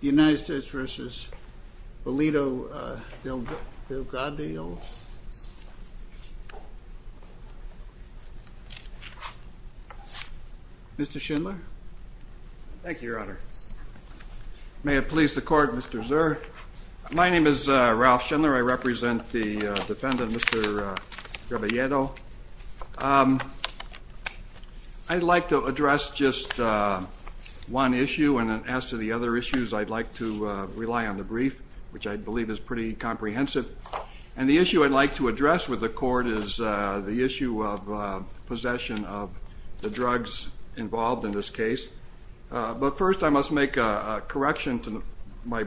United States v. Bolido-Delgadillo, Mr. Schindler. Thank you, Your Honor. May it please the court, Mr. Zur. My name is Ralph Schindler. I represent the defendant, Mr. Rebolledo. I'd like to address just one issue, and as to the other issues, I'd like to rely on the brief, which I believe is pretty comprehensive. And the issue I'd like to address with the court is the issue of possession of the drugs involved in this case. But first, I must make a correction to my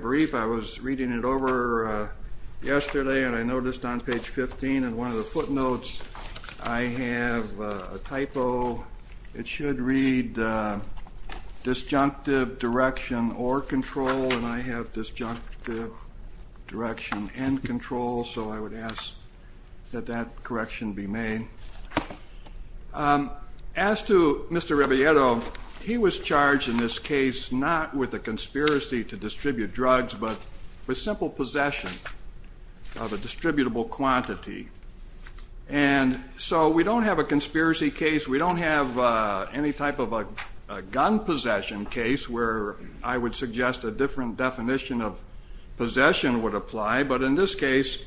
yesterday, and I noticed on page 15 in one of the footnotes, I have a typo. It should read disjunctive direction or control, and I have disjunctive direction and control, so I would ask that that correction be made. As to Mr. Rebolledo, he was charged in this case not with a distributable quantity. And so we don't have a conspiracy case. We don't have any type of a gun possession case, where I would suggest a different definition of possession would apply. But in this case,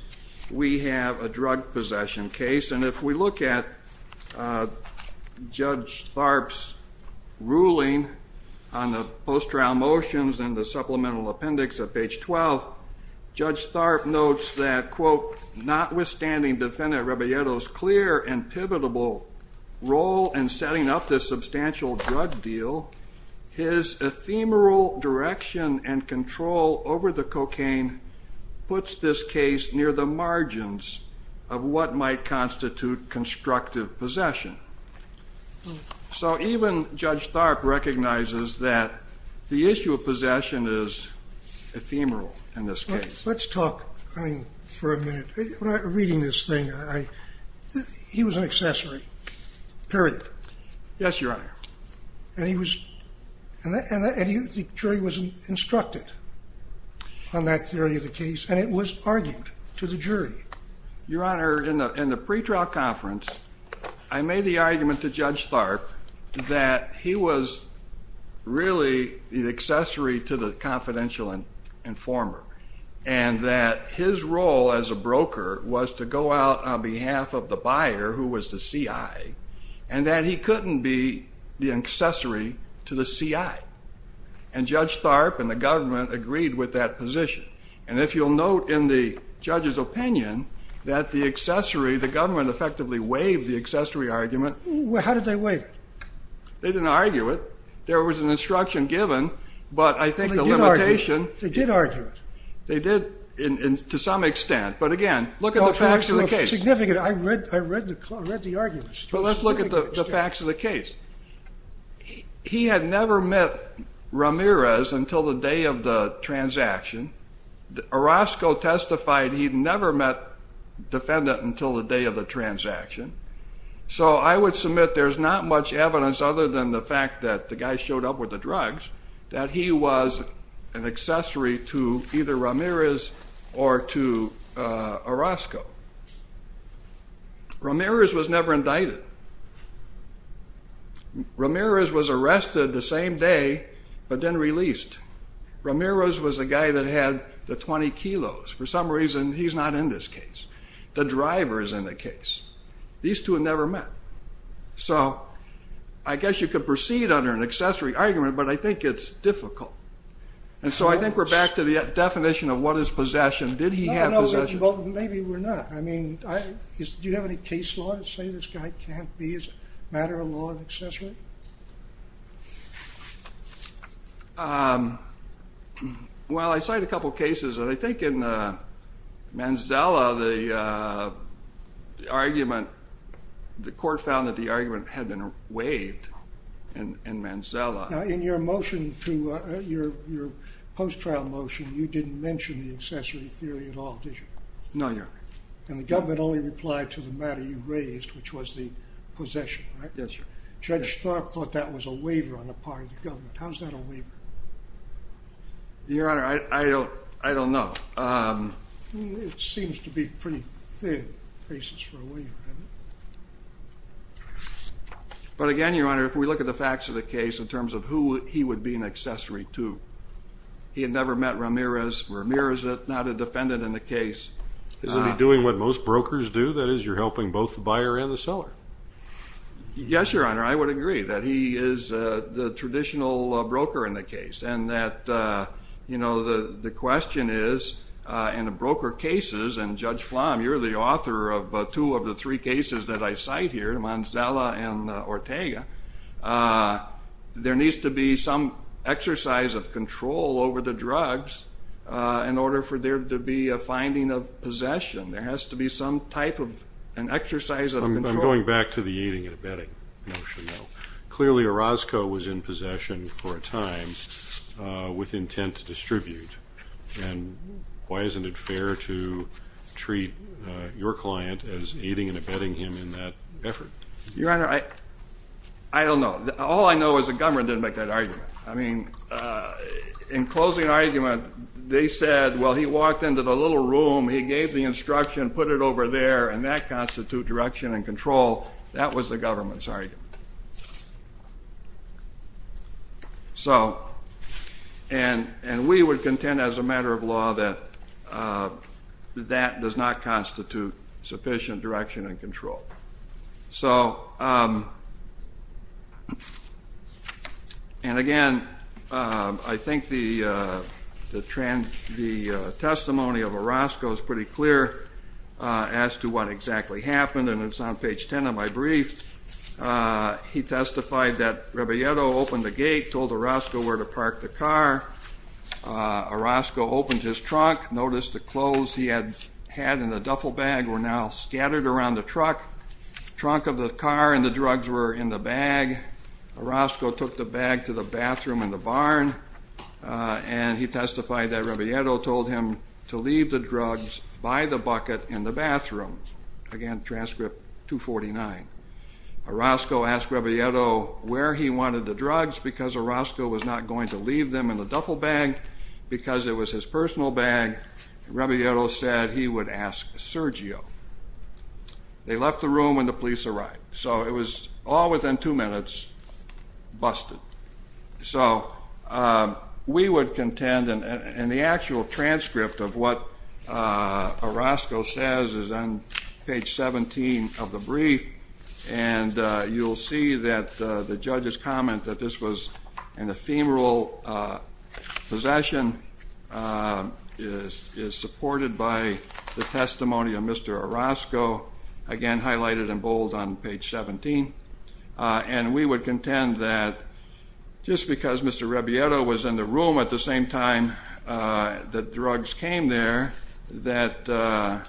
we have a drug possession case, and if we look at Judge Tharp's ruling on the post-trial motions and the supplemental appendix at page 12, Judge Tharp notes that, quote, notwithstanding Defendant Rebolledo's clear and pivotal role in setting up this substantial drug deal, his ephemeral direction and control over the cocaine puts this case near the margins of what might issue a possession is ephemeral in this case. Let's talk, I mean, for a minute. Reading this thing, he was an accessory, period. Yes, Your Honor. And he was, and the jury was instructed on that theory of the case, and it was argued to the jury. Your Honor, in the pretrial conference, I made the accessory to the confidential informer, and that his role as a broker was to go out on behalf of the buyer, who was the CI, and that he couldn't be the accessory to the CI. And Judge Tharp and the government agreed with that position. And if you'll note in the judge's opinion that the accessory, the government effectively waived the accessory argument. How did they waive it? They didn't argue it. There was an instruction given, but I think the limitation. They did argue it. They did, to some extent. But again, look at the facts of the case. Significant. I read the arguments. But let's look at the facts of the case. He had never met Ramirez until the day of the transaction. Orozco testified he'd never met defendant until the day of the transaction. He had never heard up with the drugs, that he was an accessory to either Ramirez or to Orozco. Ramirez was never indicted. Ramirez was arrested the same day, but then released. Ramirez was the guy that had the 20 kilos. For some reason, he's not in this case. The driver is in the case. These two have never met. So I guess you could proceed under an accessory argument, but I think it's difficult. And so I think we're back to the definition of what is possession. Did he have possession? Maybe we're not. I mean, do you have any case law that say this guy can't be, as a matter of law, an accessory? Well, I cite a couple of cases, and I think in Manzella, the argument, the court found that the argument had been waived in Manzella. Now, in your motion to, your post-trial motion, you didn't mention the accessory theory at all, did you? No, Your Honor. And the government only replied to the matter you raised, which was the possession, right? Yes, Your Honor. Judge Thorpe thought that was a waiver on the part of the government. How's that a waiver? Your Honor, I don't know. It seems to be pretty thin cases for a waiver, doesn't it? But again, Your Honor, if we look at the facts of the case in terms of who he would be an accessory to, he had never met Ramirez. Ramirez is not a defendant in the case. Isn't he doing what most brokers do? That is, you're helping both the buyer and the seller? Yes, Your Honor, I would agree that he is the traditional broker in the case, and that, you know, the question is, in the broker cases, and Judge Flom, you're the author of two of the three cases that I cite here, Manzella and Ortega, there needs to be some exercise of control over the drugs in order for there to be a finding of possession. There has to be some type of an exercise of control. But I'm going back to the aiding and abetting notion, though. Clearly, Orozco was in possession for a time with intent to distribute, and why isn't it fair to treat your client as aiding and abetting him in that effort? Your Honor, I don't know. All I know is the government didn't make that argument. I mean, in closing argument, they said, well, he walked into the little room, he gave the instruction, put it over there, and that constitutes direction and control. That was the government's argument. So, and we would contend as a matter of law that that does not constitute sufficient direction and control. So, and again, I think the testimony of Orozco is pretty clear as to what exactly happened, and it's on page 10 of my brief. He testified that Rebieto opened the gate, told Orozco where to park the car. Orozco opened his trunk, noticed the clothes he had had in the duffel bag were now scattered around the truck. The trunk of the car and the drugs were in the bag. Orozco took the bag to the bathroom in the barn, and he testified that Rebieto told him to leave the drugs by the bucket in the bathroom. Again, transcript 249. Orozco asked Rebieto where he wanted the drugs because Orozco was not going to leave them in the duffel bag because it was his personal bag. Rebieto said he would ask Sergio. They left the room when the police arrived. So it was all within two minutes busted. So we would contend, and the actual transcript of what Orozco says is on page 17 of the brief, and you'll see that the judge's comment that this was an ephemeral possession is supported by the testimony of Mr. Orozco, again highlighted in bold on page 17. And we would contend that just because Mr. Rebieto was in the room at the same time the drugs came there, that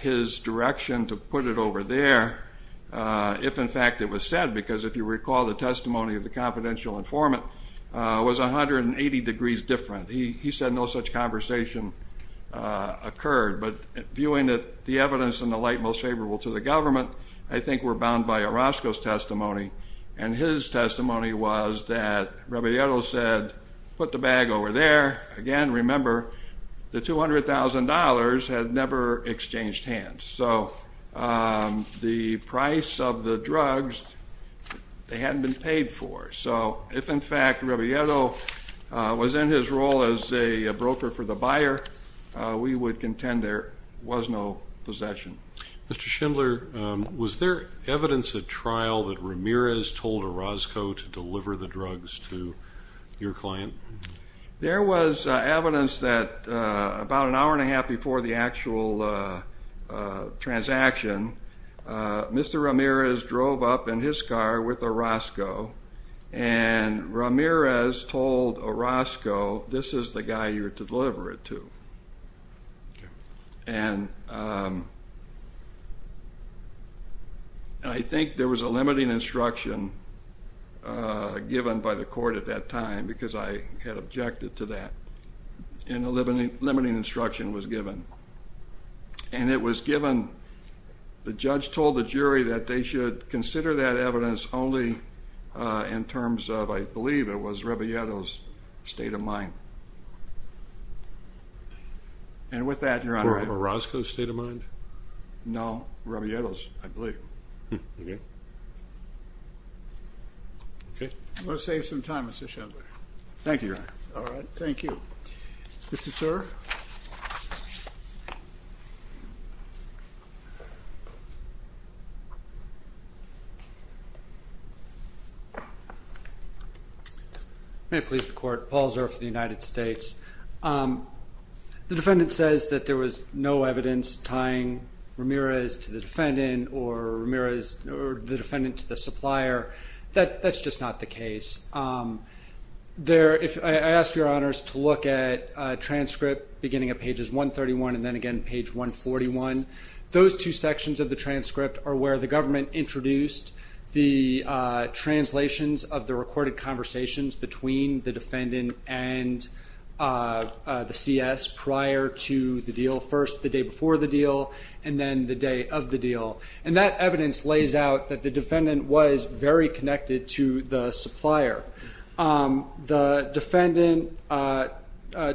his direction to put it over there, if in fact it was said, because if you recall the testimony of the confidential informant, was 180 degrees different. He said no such conversation occurred. But viewing the evidence in the light most favorable to the government, I think we're bound by Orozco's testimony. And his testimony was that Rebieto said, put the bag over there. Again, remember, the $200,000 had never exchanged hands. So the price of the drugs, they hadn't been paid for. So if in fact Rebieto was in his role as a broker for the buyer, we would contend there was no possession. Mr. Schindler, was there evidence at trial that Ramirez told Orozco to deliver the drugs to your client? There was evidence that about an hour and a half before the actual transaction, Mr. Ramirez drove up in his car with Orozco, and Ramirez told Orozco, this is the guy you're to deliver it to. And I think there was a limiting instruction given by the court at that time, because I had objected to that. And a limiting instruction was given. And it was given, the judge told the jury that they should consider that evidence only in terms of, I believe it was Rebieto's state of mind. And with that, Your Honor. Was Orozco's state of mind? No, Rebieto's, I believe. Okay. Okay. I'm going to save some time, Mr. Schindler. Thank you, Your Honor. All right, thank you. Mr. Zurf. May it please the Court, Paul Zurf of the United States. The defendant says that there was no evidence tying Ramirez to the defendant or the defendant to the supplier. That's just not the case. I ask Your Honors to look at transcript beginning at pages 131 and then again page 141. Those two sections of the transcript are where the government introduced the translations of the recorded conversations between the defendant and the CS prior to the deal, first the day before the deal, and then the day of the deal. And that evidence lays out that the defendant was very connected to the supplier. The defendant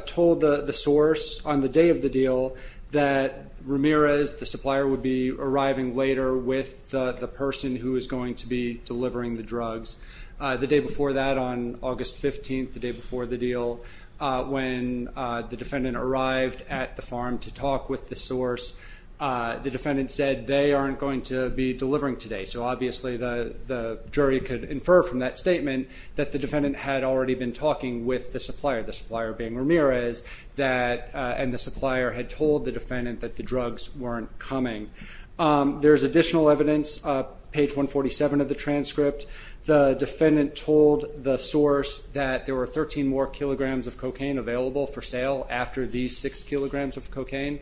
told the source on the day of the deal that Ramirez, the supplier, would be arriving later with the person who was going to be delivering the drugs. The day before that on August 15th, the day before the deal, when the defendant arrived at the farm to talk with the source, the defendant said they aren't going to be delivering today. So obviously the jury could infer from that statement that the defendant had already been talking with the supplier, the supplier being Ramirez, and the supplier had told the defendant that the drugs weren't coming. There's additional evidence, page 147 of the transcript. The defendant told the source that there were 13 more kilograms of cocaine available for sale after these six kilograms of cocaine.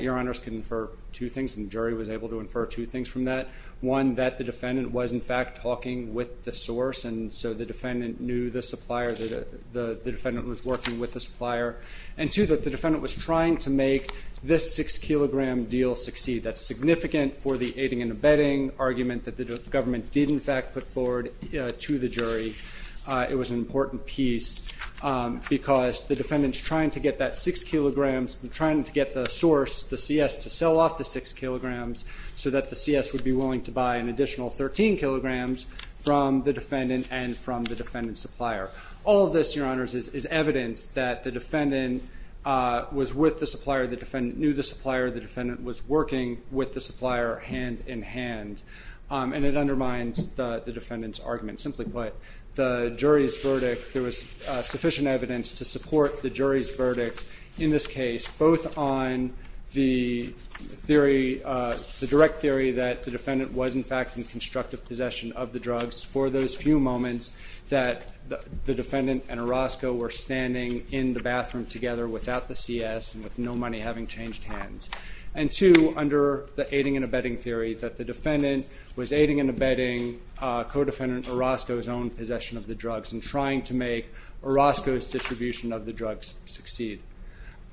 Your Honors can infer two things, and the jury was able to infer two things from that. One, that the defendant was in fact talking with the source, and so the defendant knew the supplier, the defendant was working with the supplier. And two, that the defendant was trying to make this six-kilogram deal succeed. That's significant for the aiding and abetting argument that the government did in fact put forward to the jury. It was an important piece because the defendant's trying to get that six kilograms and trying to get the source, the CS, to sell off the six kilograms so that the CS would be willing to buy an additional 13 kilograms from the defendant and from the defendant's supplier. All of this, Your Honors, is evidence that the defendant was with the supplier, the defendant knew the supplier, the defendant was working with the supplier hand-in-hand, and it undermines the defendant's argument. Simply put, the jury's verdict, there was sufficient evidence to support the jury's verdict in this case, both on the theory, the direct theory that the defendant was in fact in constructive possession of the drugs for those few moments that the defendant and Orozco were standing in the bathroom together without the CS and with no money, having changed hands, and two, under the aiding and abetting theory, that the defendant was aiding and abetting co-defendant Orozco's own possession of the drugs and trying to make Orozco's distribution of the drugs succeed.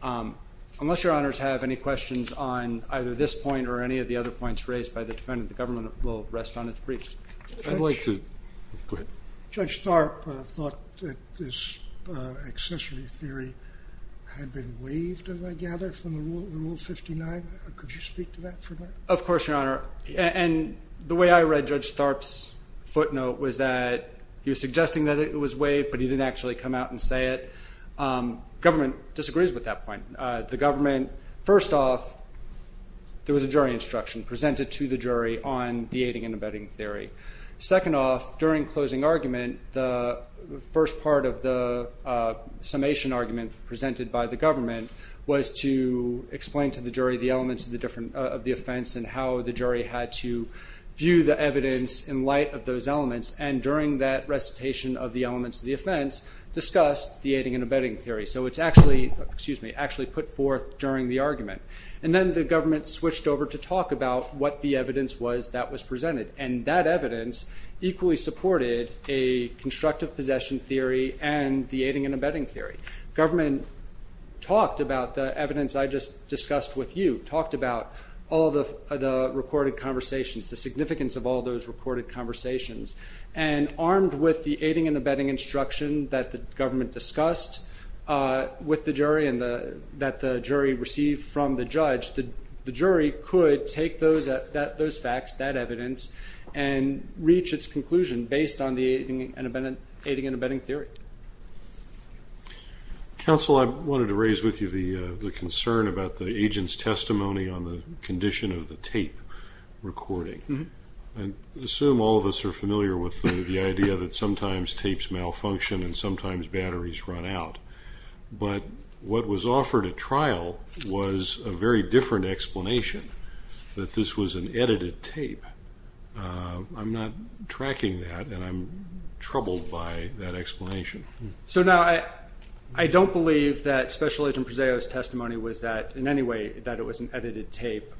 Unless Your Honors have any questions on either this point or any of the other points raised by the defendant, the government will rest on its briefs. Go ahead. Judge Tharp thought that this accessory theory had been waived, I gather, from Rule 59. Could you speak to that for a minute? Of course, Your Honor. And the way I read Judge Tharp's footnote was that he was suggesting that it was waived, but he didn't actually come out and say it. The government disagrees with that point. First off, there was a jury instruction presented to the jury on the aiding and abetting theory. Second off, during closing argument, the first part of the summation argument presented by the government was to explain to the jury the elements of the offense and how the jury had to view the evidence in light of those elements, and during that recitation of the elements of the offense, discussed the aiding and abetting theory. So it's actually put forth during the argument. And then the government switched over to talk about what the evidence was that was presented, and that evidence equally supported a constructive possession theory and the aiding and abetting theory. Government talked about the evidence I just discussed with you, talked about all the recorded conversations, the significance of all those recorded conversations, and armed with the aiding and abetting instruction that the government discussed with the jury and that the jury received from the judge, the jury could take those facts, that evidence, and reach its conclusion based on the aiding and abetting theory. Counsel, I wanted to raise with you the concern about the agent's testimony on the condition of the tape recording. I assume all of us are familiar with the idea that sometimes tapes malfunction and sometimes batteries run out. But what was offered at trial was a very different explanation, that this was an edited tape. I'm not tracking that, and I'm troubled by that explanation. So now I don't believe that Special Agent Prezeo's testimony was that in any way that it was an edited tape.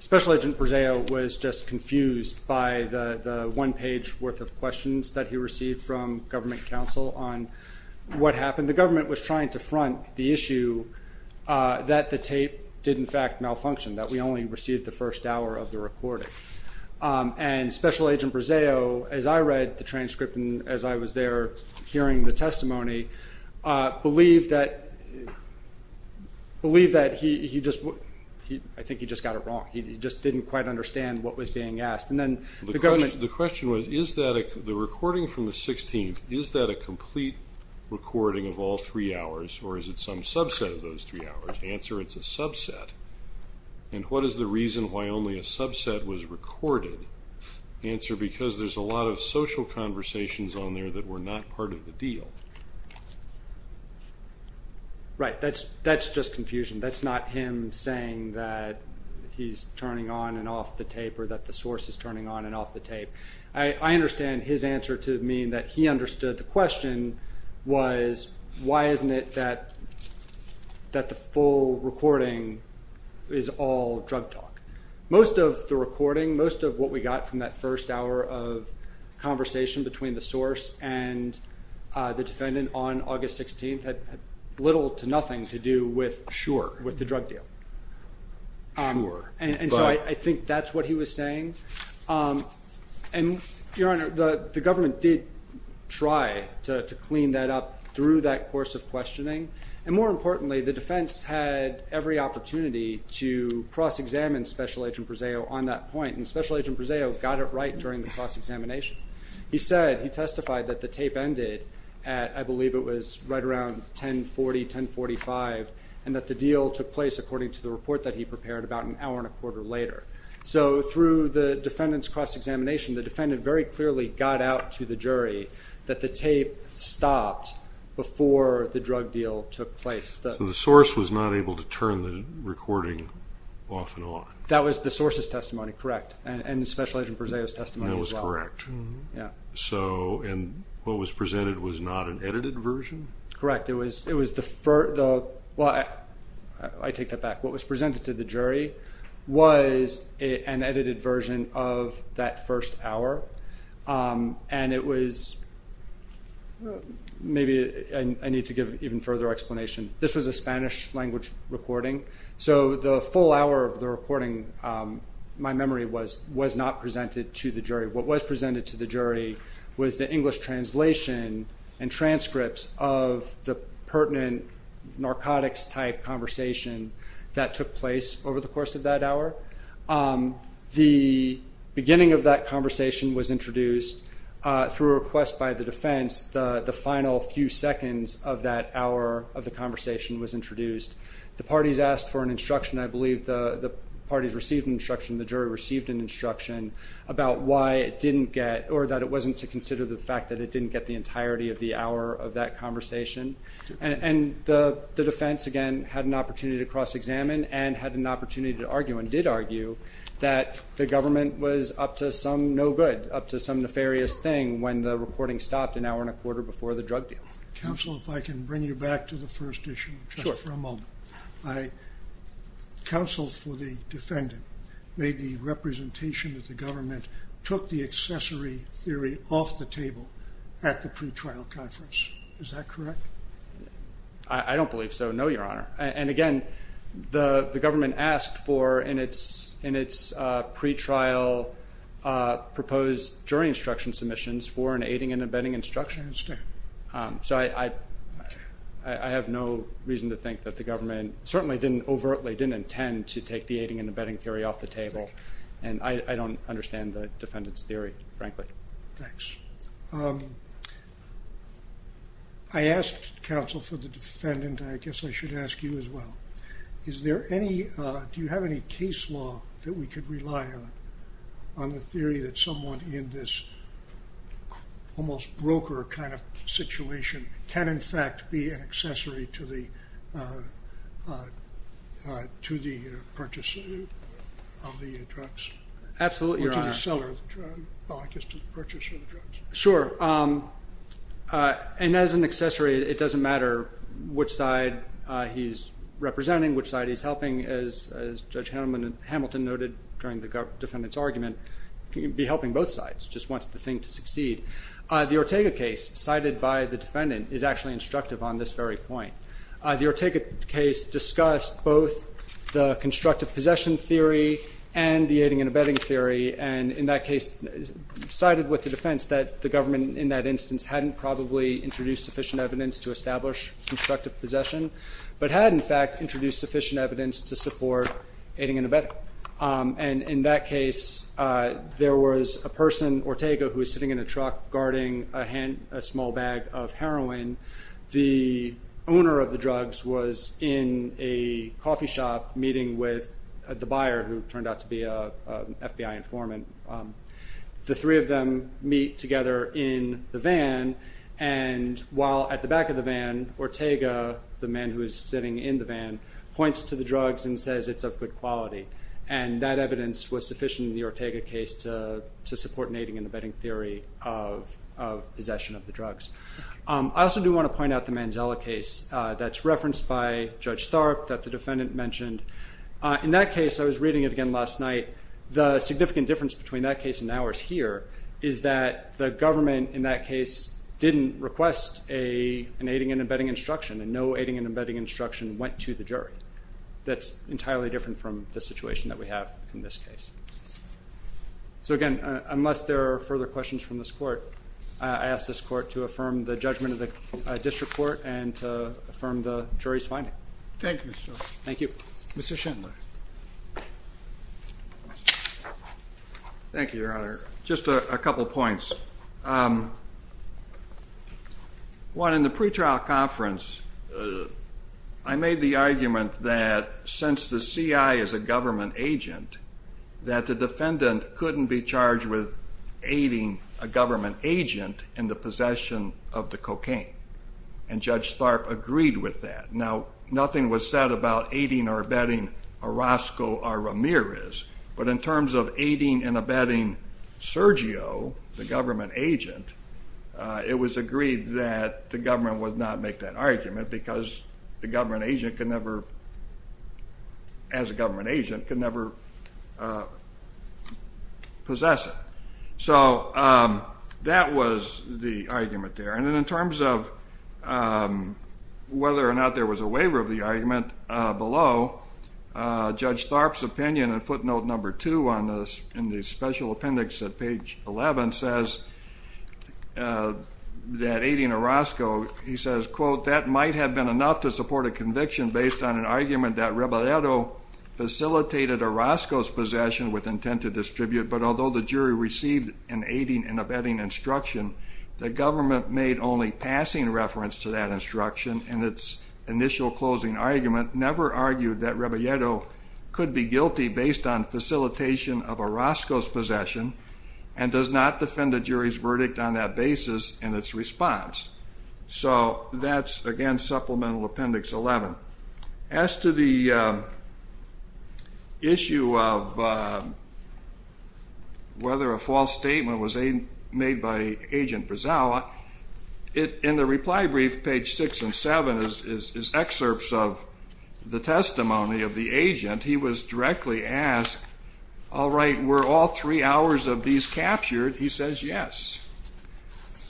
Special Agent Prezeo was just confused by the one-page worth of questions that he received from government counsel on what happened. The government was trying to front the issue that the tape did, in fact, malfunction, that we only received the first hour of the recording. And Special Agent Prezeo, as I read the transcript and as I was there hearing the testimony, believed that he just got it wrong. He just didn't quite understand what was being asked. The question was, the recording from the 16th, is that a complete recording of all three hours, or is it some subset of those three hours? Answer, it's a subset. And what is the reason why only a subset was recorded? Answer, because there's a lot of social conversations on there that were not part of the deal. Right, that's just confusion. That's not him saying that he's turning on and off the tape or that the source is turning on and off the tape. I understand his answer to mean that he understood the question was, why isn't it that the full recording is all drug talk? Most of the recording, most of what we got from that first hour of conversation between the source and the defendant on August 16th had little to nothing to do with the drug deal. And so I think that's what he was saying. And, Your Honor, the government did try to clean that up through that course of questioning. And more importantly, the defense had every opportunity to cross-examine Special Agent Brezeo on that point. And Special Agent Brezeo got it right during the cross-examination. He said, he testified that the tape ended at, I believe it was right around 10.40, 10.45, and that the deal took place according to the report that he prepared about an hour and a quarter later. So through the defendant's cross-examination, the defendant very clearly got out to the jury that the tape stopped before the drug deal took place. The source was not able to turn the recording off and on. That was the source's testimony, correct, and Special Agent Brezeo's testimony as well. That was correct. And what was presented was not an edited version? Correct. I take that back. What was presented to the jury was an edited version of that first hour. And it was, maybe I need to give even further explanation. This was a Spanish-language recording. So the full hour of the recording, my memory was, was not presented to the jury. What was presented to the jury was the English translation and transcripts of the pertinent narcotics-type conversation that took place over the course of that hour. The beginning of that conversation was introduced through a request by the defense. The final few seconds of that hour of the conversation was introduced. The parties asked for an instruction. I believe the parties received an instruction. The jury received an instruction about why it didn't get, or that it wasn't to consider the fact that it didn't get the entirety of the hour of that conversation. And the defense, again, had an opportunity to cross-examine and had an opportunity to argue and did argue that the government was up to some no good, up to some nefarious thing when the recording stopped an hour and a quarter before the drug deal. Counsel, if I can bring you back to the first issue just for a moment. Sure. Counsel for the defendant made the representation that the government took the accessory theory off the table at the pretrial conference. Is that correct? I don't believe so, no, Your Honor. And, again, the government asked for, in its pretrial proposed jury instruction submissions, for an aiding and abetting instruction. I understand. So I have no reason to think that the government certainly didn't overtly, didn't intend to take the aiding and abetting theory off the table. And I don't understand the defendant's theory, frankly. Thanks. I asked, Counsel, for the defendant, and I guess I should ask you as well, is there any, do you have any case law that we could rely on, on the theory that someone in this almost broker kind of situation can, in fact, be an accessory to the purchase of the drugs? Absolutely, Your Honor. Or to the seller, I guess, to the purchase of the drugs. Sure. And as an accessory, it doesn't matter which side he's representing, which side he's helping, as Judge Hamilton noted during the defendant's argument, can be helping both sides, just wants the thing to succeed. The Ortega case, cited by the defendant, is actually instructive on this very point. The Ortega case discussed both the constructive possession theory and the aiding and abetting theory, and in that case, cited with the defense that the government, in that instance, hadn't probably introduced sufficient evidence to establish constructive possession, but had, in fact, introduced sufficient evidence to support aiding and abetting. And in that case, there was a person, Ortega, who was sitting in a truck, guarding a small bag of heroin. The owner of the drugs was in a coffee shop meeting with the buyer, who turned out to be an FBI informant. The three of them meet together in the van, and while at the back of the van, Ortega, the man who was sitting in the van, points to the drugs and says it's of good quality, and that evidence was sufficient in the Ortega case to support an aiding and abetting theory of possession of the drugs. I also do want to point out the Manzella case that's referenced by Judge Tharp that the defendant mentioned. In that case, I was reading it again last night, the significant difference between that case and ours here is that the government, in that case, didn't request an aiding and abetting instruction, and no aiding and abetting instruction went to the jury. That's entirely different from the situation that we have in this case. So again, unless there are further questions from this court, I ask this court to affirm the judgment of the district court and to affirm the jury's finding. Thank you, Mr. Shindler. Thank you. Mr. Shindler. Thank you, Your Honor. Just a couple points. One, in the pretrial conference, I made the argument that since the CI is a government agent, that the defendant couldn't be charged with aiding a government agent in the possession of the cocaine, and Judge Tharp agreed with that. Now, nothing was said about aiding or abetting Orozco or Ramirez, but in terms of aiding and abetting Sergio, the government agent, it was agreed that the government would not make that argument because the government agent could never, as a government agent, could never possess it. So that was the argument there. And in terms of whether or not there was a waiver of the argument below, Judge Tharp's opinion in footnote number two in the special appendix at page 11 says that aiding Orozco, he says, quote, that might have been enough to support a conviction based on an argument that Rebellero facilitated Orozco's possession with intent to distribute, but although the jury received an aiding and abetting instruction, the government made only passing reference to that instruction in its initial closing argument, never argued that Rebellero could be guilty based on facilitation of Orozco's possession and does not defend the jury's verdict on that basis in its response. So that's, again, supplemental appendix 11. As to the issue of whether a false statement was made by Agent Brazawa, in the reply brief, page six and seven is excerpts of the testimony of the agent. He was directly asked, all right, were all three hours of these captured? He says yes.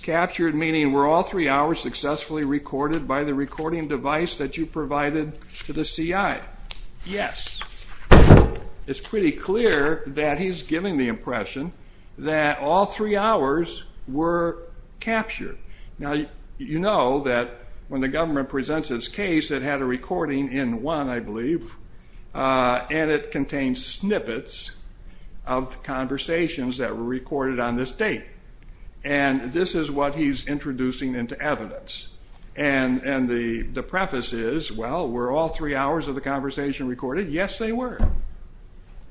Captured meaning were all three hours successfully recorded by the recording device that you provided to the CI? Yes. It's pretty clear that he's giving the impression that all three hours were captured. Now, you know that when the government presents its case, it had a recording in one, I believe, and it contains snippets of conversations that were recorded on this date, and this is what he's introducing into evidence. And the preface is, well, were all three hours of the conversation recorded? Yes, they were.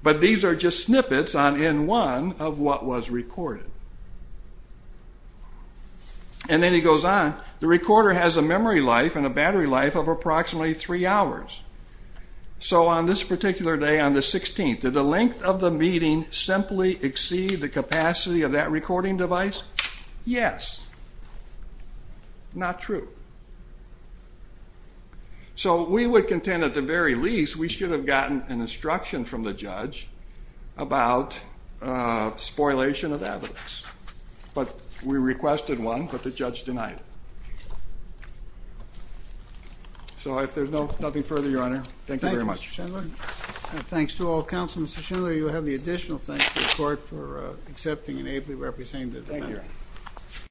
But these are just snippets on N1 of what was recorded. And then he goes on. The recorder has a memory life and a battery life of approximately three hours. So on this particular day, on the 16th, did the length of the meeting simply exceed the capacity of that recording device? Yes. Not true. So we would contend, at the very least, we should have gotten an instruction from the judge about spoilation of evidence. But we requested one, but the judge denied it. So if there's nothing further, Your Honor, thank you very much. Thank you, Mr. Schindler. And thanks to all counsel. Mr. Schindler, you have the additional thanks to the court for accepting and ably representing the defendant. Thank you.